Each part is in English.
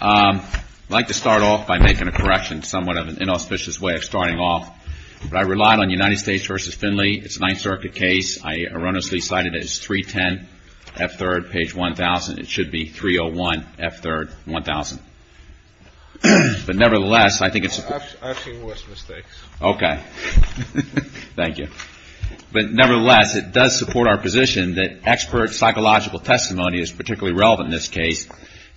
I'd like to start off by making a correction. It's somewhat of an inauspicious way of starting off. I relied on United States v. Finley. It's a Ninth Circuit case. I erroneously cited it as 310, F3, page 1000. It should be 301, F3, 1000. Nevertheless, it does support our psychological testimony is particularly relevant in this case,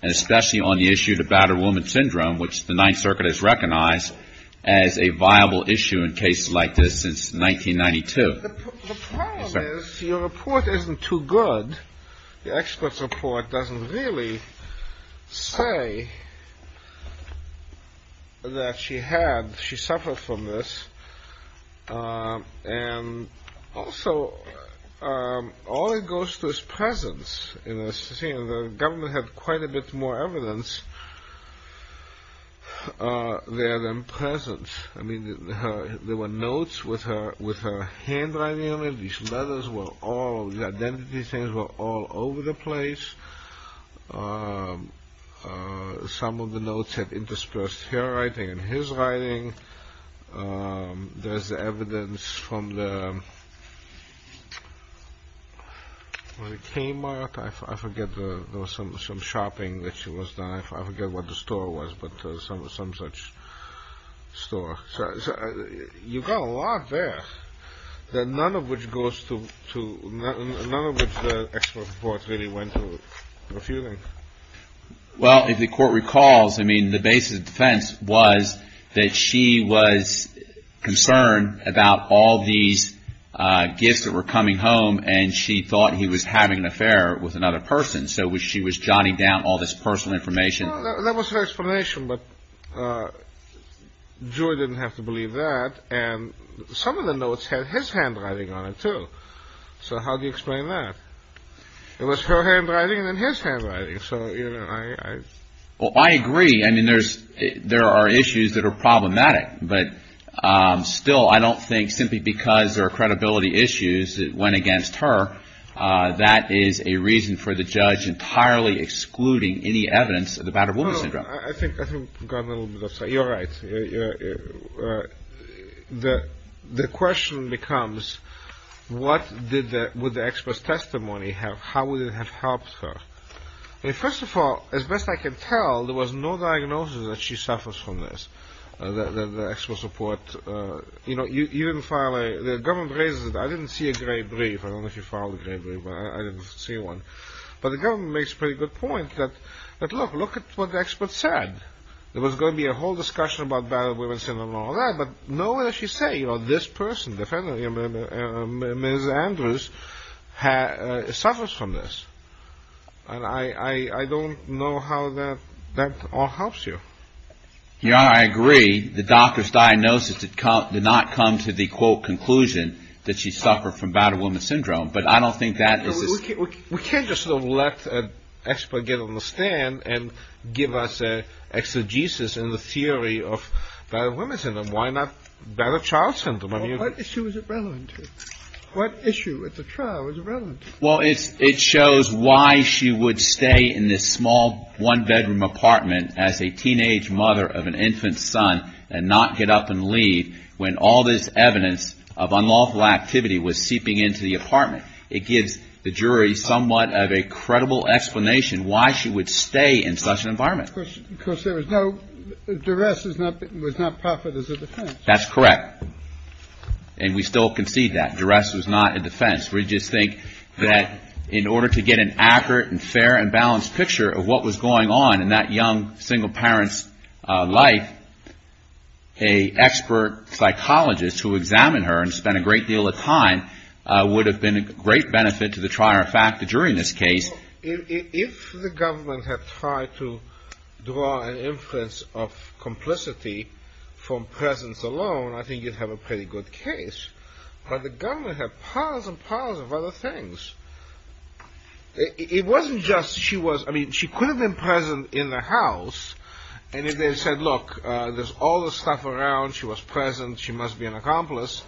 and especially on the issue to battered woman syndrome, which the Ninth Circuit has recognized as a viable issue in cases like this since 1992. The problem is your report isn't too good. The expert's report doesn't really say that she had, she suffered from this. And also, all it goes to is presence. The government had quite a bit more evidence there than presence. I mean, there were notes with her handwriting on it. These letters were all, the identity things were all over the place. Some of the letters she was writing, there's evidence from the Kmart, I forget, there was some shopping that she was done, I forget what the store was, but some such store. You've got a lot there, none of which goes to, none of which the expert's report really went to refuting. Well, if the court recalls, I mean, the basis of defense was that she was concerned about all these gifts that were coming home, and she thought he was having an affair with another person. So she was jotting down all this personal information. Well, that was her explanation, but Julie didn't have to believe that. And some of the notes had his handwriting on it, too. So how do you explain that? It was her handwriting and then his handwriting. So, you know, I... Well, I agree. I mean, there are issues that are problematic. But still, I don't think simply because there are credibility issues that went against her, that is a reason for the judge entirely excluding any evidence of the battered woman syndrome. Well, I think we've gone a little bit off track. You're right. The question becomes, what would the expert's testimony have? How would it have helped her? First of all, as best I can tell, there was no diagnosis that she suffers from this, the expert's report. You know, you didn't file a... The government raises it. I didn't see a gray brief. I don't know if you filed a gray brief, but I didn't see one. But the government makes a pretty good point that, look, look at what the expert said. There was going to be a whole discussion about battered women syndrome and all that, but no matter what you say, you know, this person, Ms. Andrews, suffers from this. And I don't know how that all helps you. Your Honor, I agree. The doctor's diagnosis did not come to the, quote, conclusion that she suffered from battered woman syndrome, but I don't think that this is... We can't just let the expert get on the stand and give us an exegesis in the theory of battered child syndrome. I mean... Well, what issue is it relevant to? What issue at the trial is it relevant to? Well, it shows why she would stay in this small one-bedroom apartment as a teenage mother of an infant son and not get up and leave when all this evidence of unlawful activity was seeping into the apartment. It gives the jury somewhat of a credible explanation why she would stay in such an environment. Because there was no... Duress was not proper as a defense. That's correct. And we still concede that. Duress was not a defense. We just think that in order to get an accurate and fair and balanced picture of what was going on in that young single parent's life, a expert psychologist who examined her and spent a great deal of time would have been a great benefit to the trier of fact the jury in this case. If the government had tried to draw an inference of complicity from presence alone, I think you'd have a pretty good case. But the government had piles and piles of other things. It wasn't just she was... I mean, she could have been present in the house, and if they had said, look, there's all this stuff around, she was present, she must be an accomplice,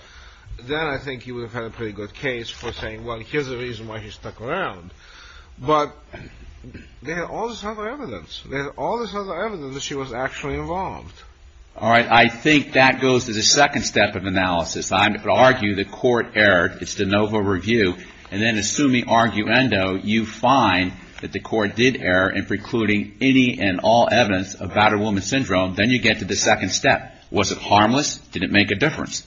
then I think you would have had a pretty good case for saying, well, here's the reason why she stuck around. But they had all this other evidence. They had all this other evidence that she was actually involved. All right. I think that goes to the second step of analysis. I would argue the court erred. It's de novo review. And then assuming arguendo, you find that the court did err in precluding any and all evidence of battered woman syndrome. Then you get to the second step. Was it harmless? Did it make a difference?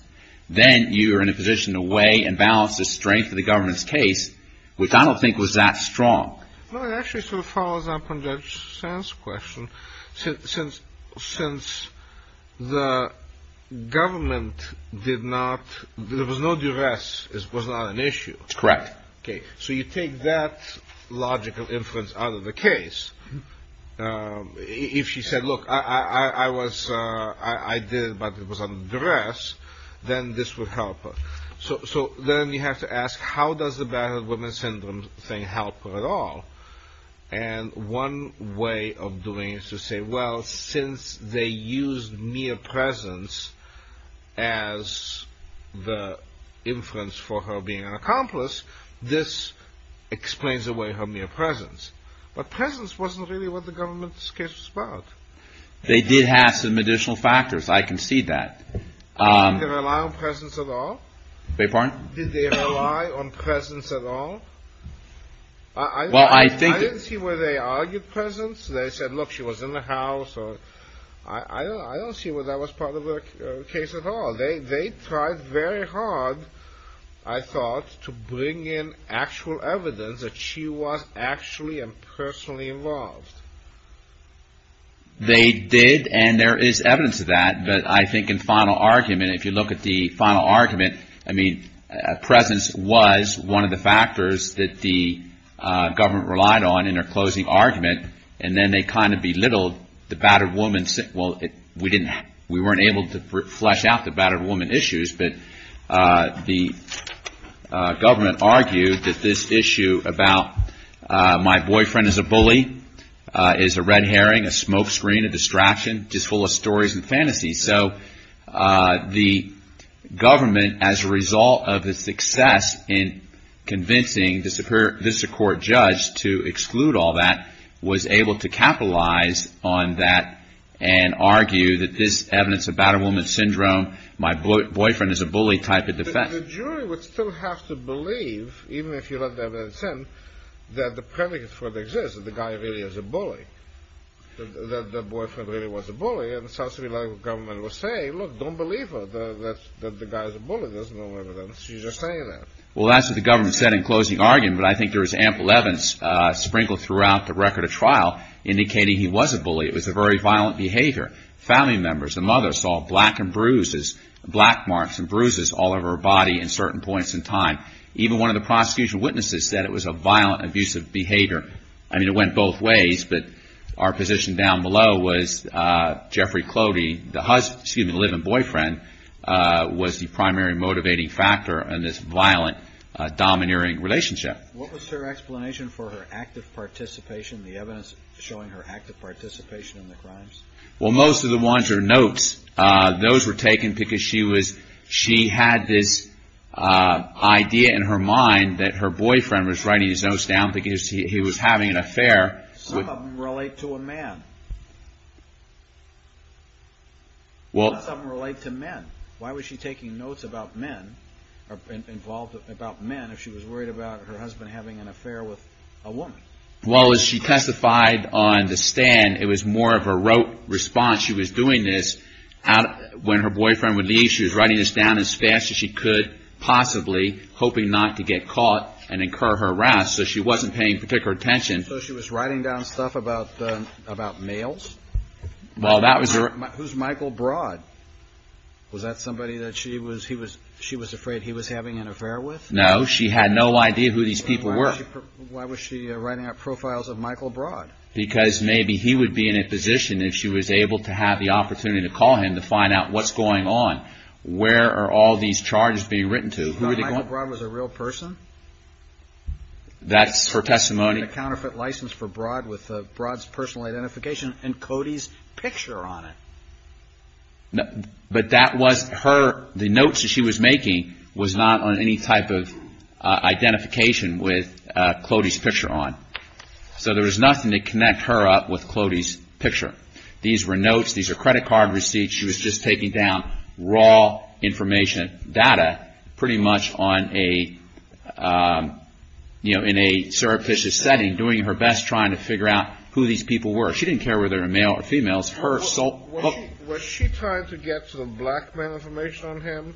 Then you are in a position to weigh and balance the strength of the government's case, which I don't think was that strong. Well, it actually sort of follows up on Judge Sand's question. Since the government did not... there was no duress, it was not an issue. Correct. Okay. So you take that logical inference out of the case. If she said, look, I did it, but it was a duress, then this would help her. So then you have to ask, how does the battered woman syndrome thing help her at all? And one way of doing it is to say, well, since they used mere presence as the inference for her being an accomplice, this explains away her mere presence. But presence wasn't really what the government's case was about. They did have some additional factors. I can see that. Did they rely on presence at all? Beg your pardon? Did they rely on presence at all? I didn't see where they argued presence. They said, look, she was in the house. I don't see where that was part of the case at all. They tried very hard, I thought, to bring in actual evidence that she was actually and personally involved. They did, and there is evidence of that. But I think in final argument, if you look at the final argument, I mean, presence was one of the factors that the government relied on in their closing argument. And then they kind of belittled the battered woman. Well, we weren't able to flesh out the battered woman issues, but the government argued that this issue about my boyfriend is a bully, is a red herring, a smokescreen, a distraction, just full of stories and fantasies. So the government, as a result of its success in convincing the Superior Visitor Court judge to exclude all that, was able to capitalize on that and argue that this evidence about a woman's syndrome, my boyfriend is a bully, type of defense. But the jury would still have to believe, even if you let the evidence in, that the predicates for it exist, that the guy really is a bully, that the boyfriend really was a bully. And South Carolina government was saying, look, don't believe her, that the guy is a bully. There's no evidence. She's just saying that. Well, that's what the government said in closing argument, but I think there was ample evidence sprinkled throughout the record of trial indicating he was a bully. It was a very violent behavior. Family members, the mother saw black and bruises, black marks and bruises all over her body in certain points in time. Even one of the prosecution witnesses said it was a violent, abusive behavior. I mean, it went both ways, but our position down below was Jeffrey Clody, the husband, excuse me, the live-in boyfriend, was the primary motivating factor in this violent, domineering relationship. What was her explanation for her active participation, the evidence showing her active participation in the crimes? Well, most of the ones are notes. Those were taken because she had this idea in her mind that her boyfriend was writing his notes down because he was having an affair. Some of them relate to a man. Some of them relate to men. Why was she taking notes about men, involved about men, if she was worried about her husband having an affair with a woman? Well, as she testified on the stand, it was more of a rote response. She was doing this when her boyfriend would leave. She was writing this down as fast as she could possibly, hoping not to get caught and incur harassment. So she wasn't paying particular attention. So she was writing down stuff about males? Well, that was her... Who's Michael Broad? Was that somebody that she was afraid he was having an affair with? No. She had no idea who these people were. Why was she writing up profiles of Michael Broad? Because maybe he would be in a position, if she was able to have the opportunity to call him, to find out what's going on. Where are all these charges being written to? She thought Michael Broad was a real person? That's her testimony. She had a counterfeit license for Broad with Broad's personal identification and Cody's picture on it. But that was her... The notes that she was making was not on any type of identification with Cody's picture on. So there was nothing to connect her up with Cody's picture. These were notes. These are credit card receipts. She was just taking down raw information data pretty much on a, you know, in a surreptitious setting, doing her best trying to figure out who these people were. She didn't care whether they were male or female. Was she trying to get some black man information on him?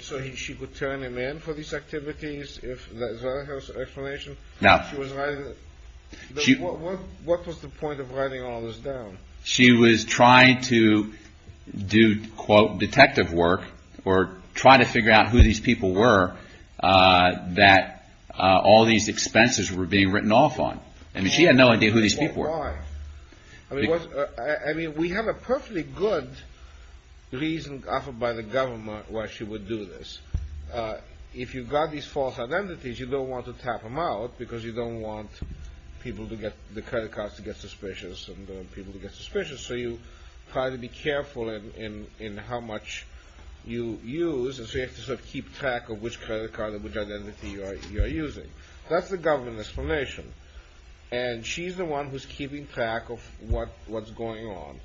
So she could turn him in for these activities? Is that her explanation? No. She was writing... What was the point of writing all this down? She was trying to do, quote, detective work, or try to figure out who these people were that all these expenses were being written off on. I mean, she had no idea who these people were. Why? I mean, we have a perfectly good reason offered by the government why she would do this. If you've got these false identities, you don't want to tap them out because you get suspicious. So you try to be careful in how much you use, and so you have to sort of keep track of which credit card or which identity you are using. That's the government explanation. And she's the one who's keeping track of what's going on.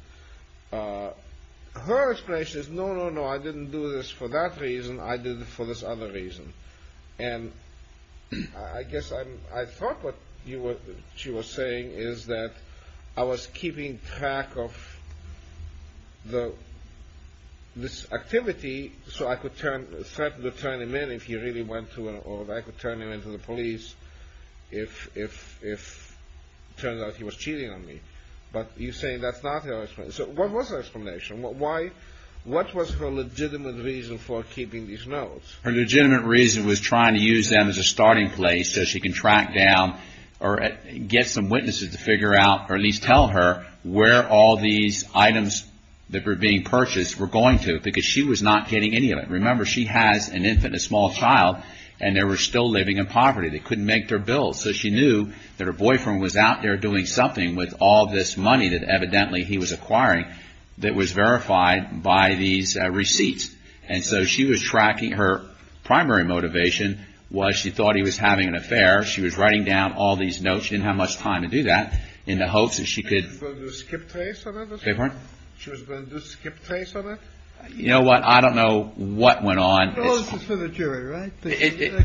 Her explanation is, no, no, no, I didn't do this for that reason. I did it for this other reason. And I guess I thought what she was saying is that I was keeping track of what I was doing. I was keeping track of this activity so I could threaten to turn him in if he really went to, or I could turn him in to the police if it turned out he was cheating on me. But you're saying that's not her explanation. So what was her explanation? What was her legitimate reason for keeping these notes? Her legitimate reason was trying to use them as a starting place so she can track down or get some witnesses to figure out or at least tell her where all these items that were being purchased were going to because she was not getting any of it. Remember, she has an infant, a small child, and they were still living in poverty. They couldn't make their bills. So she knew that her boyfriend was out there doing something with all this money that evidently he was acquiring that was verified by these receipts. And so she was tracking, her primary motivation was she thought he was having an affair. She was writing down all these notes. She didn't have much time to do that in the hopes that she could She was going to do a skip trace on it? You know what? I don't know what went on. It's all for the jury, right?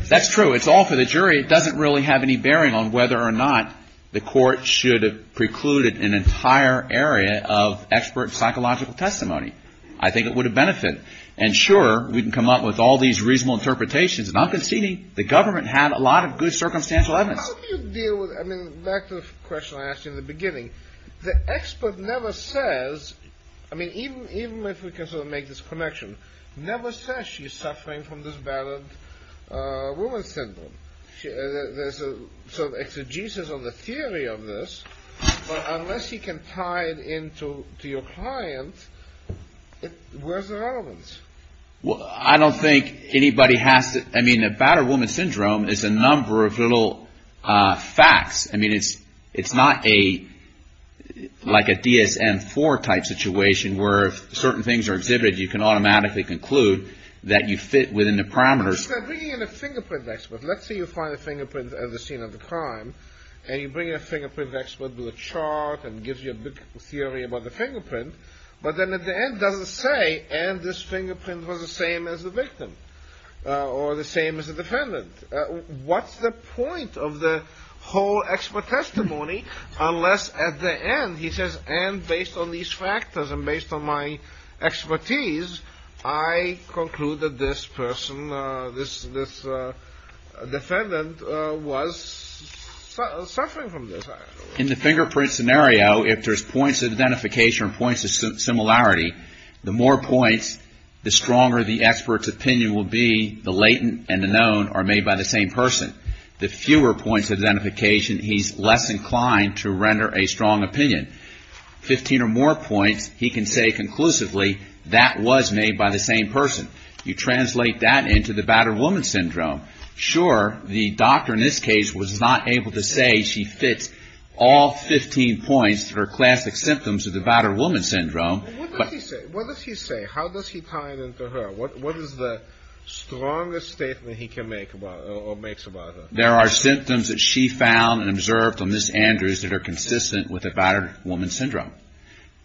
That's true. It's all for the jury. It doesn't really have any bearing on whether or not the court should have precluded an entire area of expert psychological testimony. I think it would have benefited. And sure, we can come up with all these reasonable interpretations. And I'm conceding the government had a lot of good circumstantial evidence. How do you deal with, I mean, back to the question I asked you in the beginning, the expert never says, I mean, even if we can sort of make this connection, never says she's suffering from this bad woman syndrome. There's a sort of exegesis of the theory of this, but unless you can tie it in to your client, where's the relevance? Well, I don't think anybody has to, I mean, a bad woman syndrome is a number of little facts. I mean, it's not a, like a DSM-IV type situation where if certain things are exhibited, you can automatically conclude that you fit within the parameters. You said bringing in a fingerprint expert. Let's say you find a fingerprint at the scene of the crime, and you bring a fingerprint expert with a chart and gives you a big theory about the fingerprint, but then at the end doesn't say, and this fingerprint was the same as the victim, or the same as the defendant. What's the point of the whole expert testimony unless at the end he says, and based on these factors and based on my expertise, I conclude that this person, this defendant was suffering from this. In the fingerprint scenario, if there's points of identification or points of similarity, the more points, the stronger the expert's opinion will be, the latent and the known are made by the same person. The fewer points of identification, he's less inclined to render a strong opinion. Fifteen or more points, he can say conclusively, that was made by the same person. You translate that into the bad woman syndrome. Sure, the doctor in this case was not able to say she fits all 15 points that are classic symptoms of the bad woman syndrome. What does he say? How does he tie it into her? What is the strongest statement he can make about her? There are symptoms that she found and observed on Ms. Andrews that are consistent with the bad woman syndrome.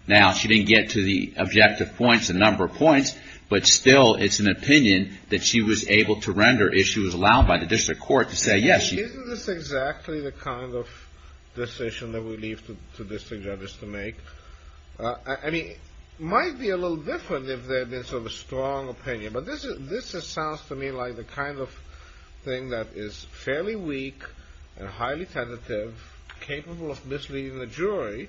Now, she didn't get to the objective points, the number of points that she was allowed by the district court to say yes. Isn't this exactly the kind of decision that we leave to district judges to make? It might be a little different if there had been a strong opinion, but this sounds to me like the kind of thing that is fairly weak and highly tentative, capable of misleading the jury,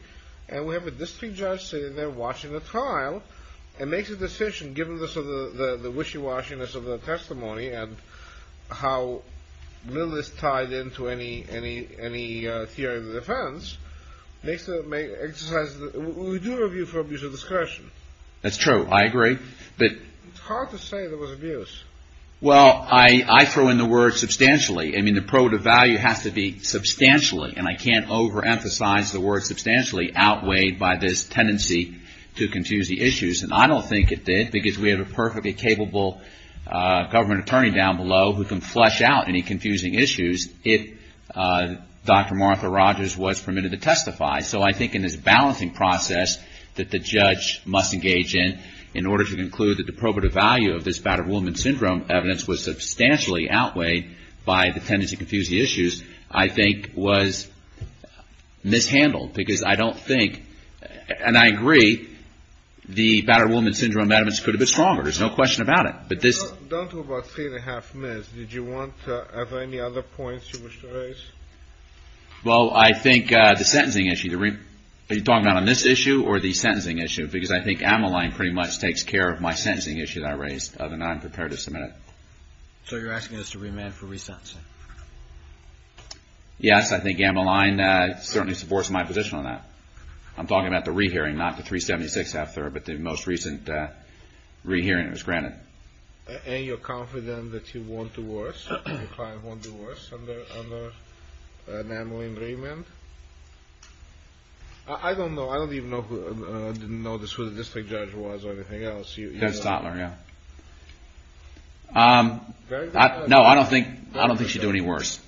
and we have a district judge sitting there watching the trial and makes a wishy-washiness of the testimony and how little is tied into any theory of defense. We do review for abuse of discretion. That's true, I agree. It's hard to say there was abuse. Well, I throw in the word substantially. I mean, the probative value has to be substantially, and I can't overemphasize the word substantially, outweighed by this perfectly capable government attorney down below who can flesh out any confusing issues if Dr. Martha Rogers was permitted to testify. So I think in this balancing process that the judge must engage in, in order to conclude that the probative value of this battered woman syndrome evidence was substantially outweighed by the tendency to confuse the issues, I think was mishandled, because I don't think, and I agree, the battered woman syndrome evidence could have been stronger. There's no question about it. Don't do about three and a half minutes. Do you have any other points you wish to raise? Well, I think the sentencing issue, are you talking about on this issue or the sentencing issue, because I think Ammaline pretty much takes care of my sentencing issue that I raised, and I'm prepared to submit it. So you're asking us to remand for resentencing? Yes, I think Ammaline certainly supports my position on that. I'm talking about the re-hearing, not the 376 after, but the most recent re-hearing was granted. And you're confident that you won't do worse, your client won't do worse under an Ammaline remand? I don't know, I don't even know who, I didn't notice who the district judge was or anything else. Dennis Totler, yeah. No, I don't think she'd do any worse.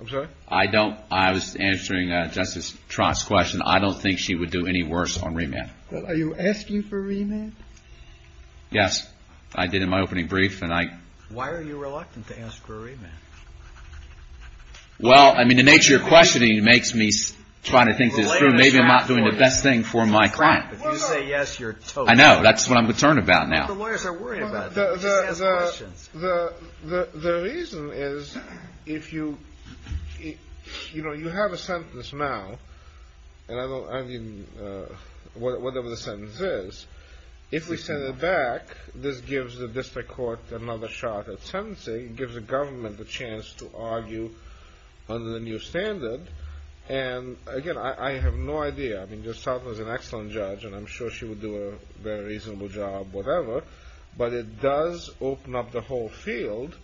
I'm sorry? I don't, I was answering Justice Trott's question, I don't think she would do any worse on remand. Are you asking for remand? Yes, I did in my opening brief. Why are you reluctant to ask for a remand? Well, I mean the nature of questioning makes me try to think this through, maybe I'm not doing the best thing for my client. If you say yes, you're toast. I know, that's what I'm concerned about now. But the lawyers are worried about that. The reason is, if you, you know, you have a sentence now and I don't, I mean, whatever the sentence is, if we send it back, this gives the district court another shot at sentencing, it gives the government a chance to argue under the new standard, and again, I have no idea I mean, Justice Totler is an excellent judge and I'm sure she would do a very reasonable job whatever, but it does open up the whole field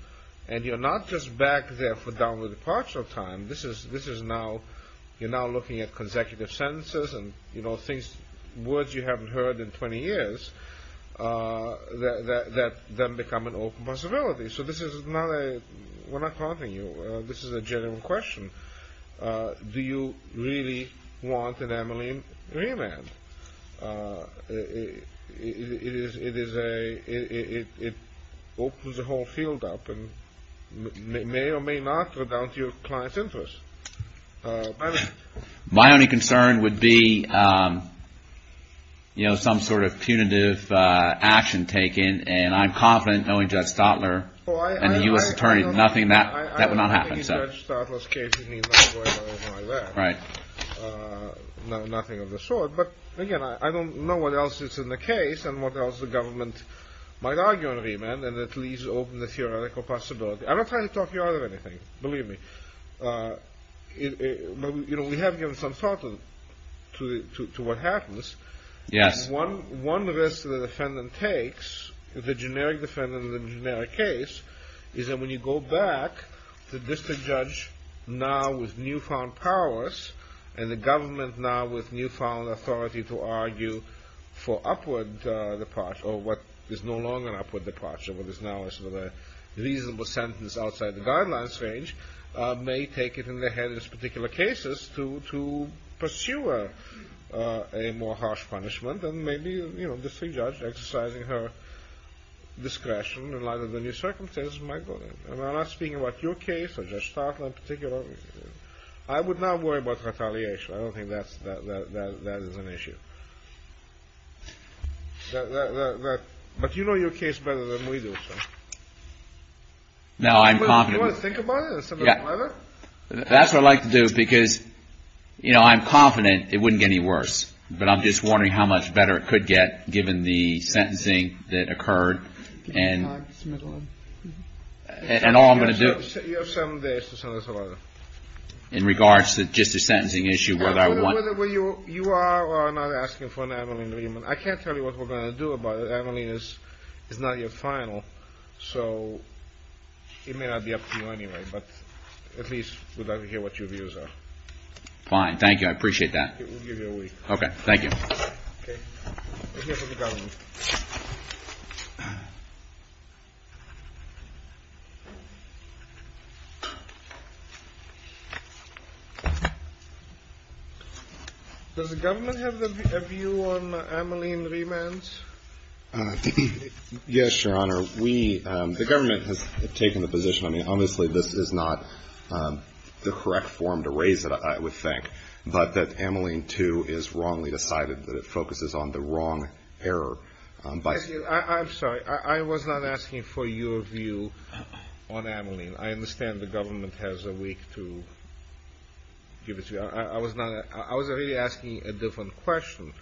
and you're not just back there for downward departure time this is now, you're now looking at consecutive sentences and words you haven't heard in 20 years that then become an open possibility, so this is not a we're not taunting you, this is a genuine question Do you really want an Emily remand? It is a it opens the whole field up and may or may not go down to your client's interest My only concern would be you know, some sort of punitive action taken and I'm confident, knowing Judge Totler and the U.S. Attorney, that would not happen I don't think in Judge Totler's case he's not going to go over like that nothing of the sort, but again I don't know what else is in the case and what else the government might argue on remand and at least open the theoretical possibility I'm not trying to talk you out of anything, believe me but we have given some thought to what happens and one risk the defendant takes the generic defendant in the generic case, is that when you go back the district judge now with newfound powers and the government now with newfound authority to argue for upward departure, or what is no longer an upward departure what is now a reasonable sentence outside the guidelines range may take it in the head in this particular case to pursue a more harsh punishment and maybe the district judge exercising her discretion in light of the new circumstances I'm not speaking about your case or Judge Totler in particular I would not worry about retaliation, I don't think that is an issue but you know your case better than we do Do you want to think about it? I'm confident it wouldn't get any worse but I'm just wondering how much better it could get given the sentencing that occurred and all I'm going to do You have 7 days to send us a letter You are not asking for an Evelyn Riemann I can't tell you what we're going to do about it, Evelyn is not your final so it may not be up to you anyway but at least we'd like to hear what your views are Fine, thank you, I appreciate that Thank you Does the government have a view on Evelyn Riemann? Yes your honor The government has taken the position, I mean honestly this is not the correct form to raise it I would think but that Evelyn too is wrongly decided that it focuses on the wrong error I'm sorry, I was not asking for your view on Evelyn, I understand the government has a weak view I was really asking a different question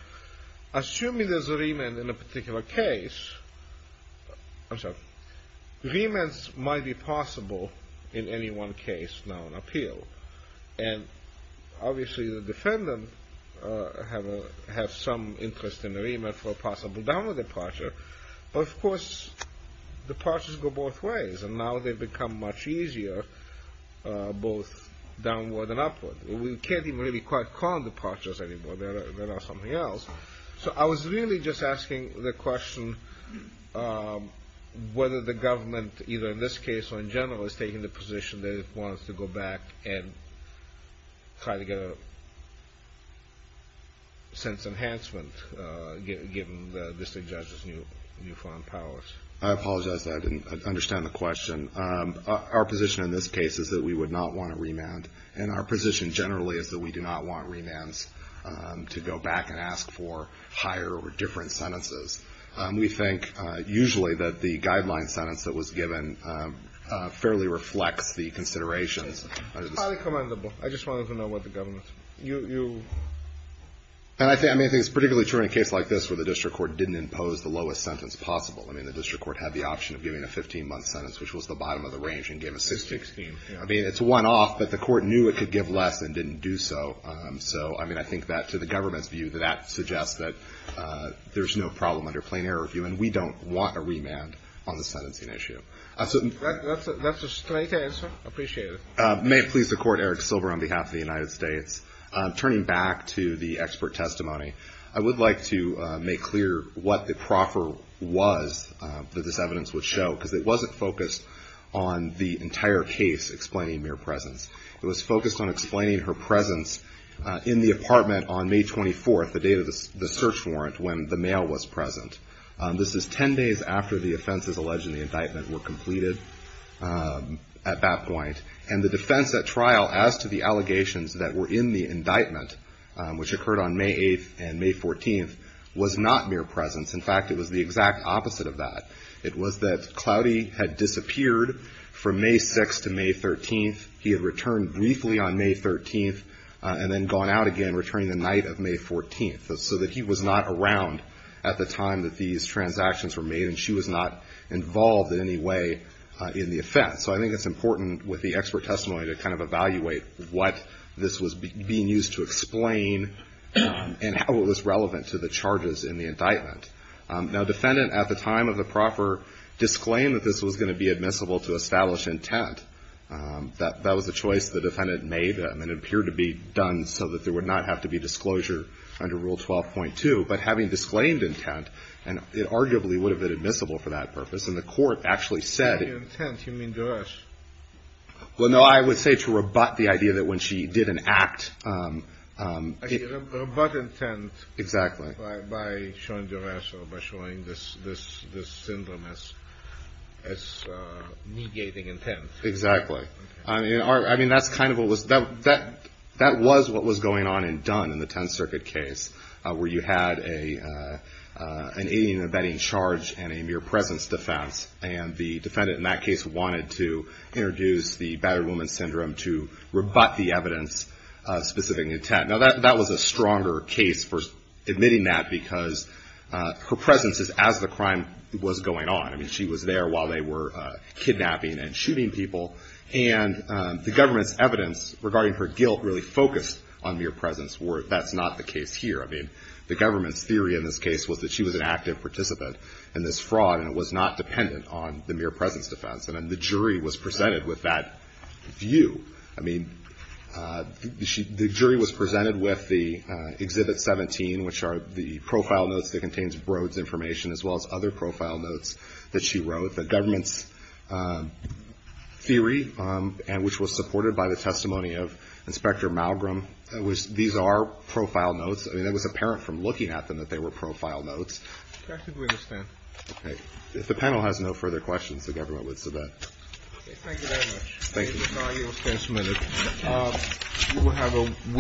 Assuming there is a Riemann in a particular case Riemann's might be possible in any one case now in appeal and obviously the defendant has some interest in a Riemann for a possible downward departure but of course departures go both ways and now they become much easier both downward and upward we can't even quite call them departures anymore so I was really just asking the question whether the government either in this case or in general is taking the position that it wants to go back and try to get a sense of enhancement given the district judge's newfound powers I apologize I didn't understand the question our position in this case is that we would not want a Riemann and our position generally is that we do not want Riemann's to go back and ask for higher or different sentences we think usually that the guideline sentence that was given fairly reflects the considerations highly commendable, I just wanted to know what the government and I think it's particularly true in a case like this where the district court didn't impose the lowest sentence possible I mean the district court had the option of giving a 15 month sentence which was the bottom of the range and gave a 16, I mean it's one off but the court knew it could give less and didn't do so, so I mean I think that to the government's view that that suggests that there's no problem under plain error view and we don't want a Riemann on the sentencing issue May it please the court, Eric Silver on behalf of the United States turning back to the expert testimony, I would like to make clear what the proffer was that this evidence would show because it wasn't focused on the entire case explaining mere presence it was focused on explaining her presence in the apartment on May 24th, the date of the search warrant when the mail was present this is 10 days after the offenses alleged in the indictment were completed at that point, and the defense at trial as to the allegations that were in the indictment which occurred on May 8th and May 14th was not mere presence, in fact it was the exact opposite of that, it was that Cloudy had disappeared from May 6th to May 13th, he had returned briefly on May 13th and then gone out again returning the night of May 14th so that he was not around at the time that these transactions were made and she was not involved in any way in the offense so I think it's important with the expert testimony to kind of evaluate what this was being used to explain and how it was relevant to the charges in the indictment. Now defendant at the time of the proffer disclaimed that this was going to be admissible to establish intent that was the choice the defendant made and it appeared to be done so that there would not have to be disclosure under Rule 12.2 but having disclaimed intent, it arguably would have been admissible for that purpose and the court actually said... By intent you mean duress? Well no, I would say to rebut the idea that when she did an act Actually, rebut intent by showing duress or by showing this syndrome as negating intent. Exactly. That was what was going on in Dunn in the Tenth Circuit case where you had an alien abetting charge and a mere presence defense and the defendant in that case wanted to introduce the battered woman syndrome to rebut the evidence of specific intent. Now that was a stronger case for admitting that because her presence is as the crime was going on I mean she was there while they were kidnapping and shooting people and the government's evidence regarding her guilt really focused on mere presence where that's not the case here. I mean the government's theory in this case was that she was an active participant in this fraud and was not dependent on the mere presence defense and the jury was presented with that view I mean the jury was presented with the Exhibit 17 which are the profile notes that contains Broad's information as well as other profile notes that she wrote. The government's theory which was supported by the testimony of Inspector Malgrom. These are profile notes. I mean it was apparent from looking at them that they were profile notes. If the panel has no further questions the government would submit. Thank you very much. Thank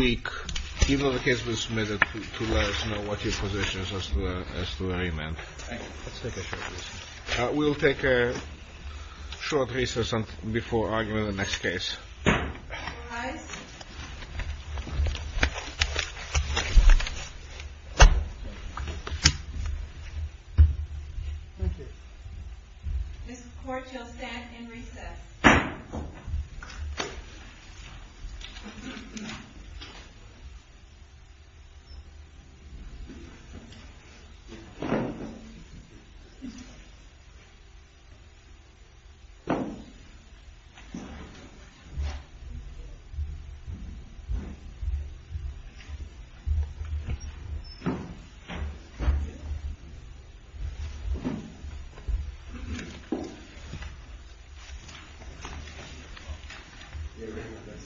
you. Even though the case was submitted to let us know what your position was as to the remand. We'll take a short recess before arguing the next case. Thank you. This court shall stand in recess. Thank you.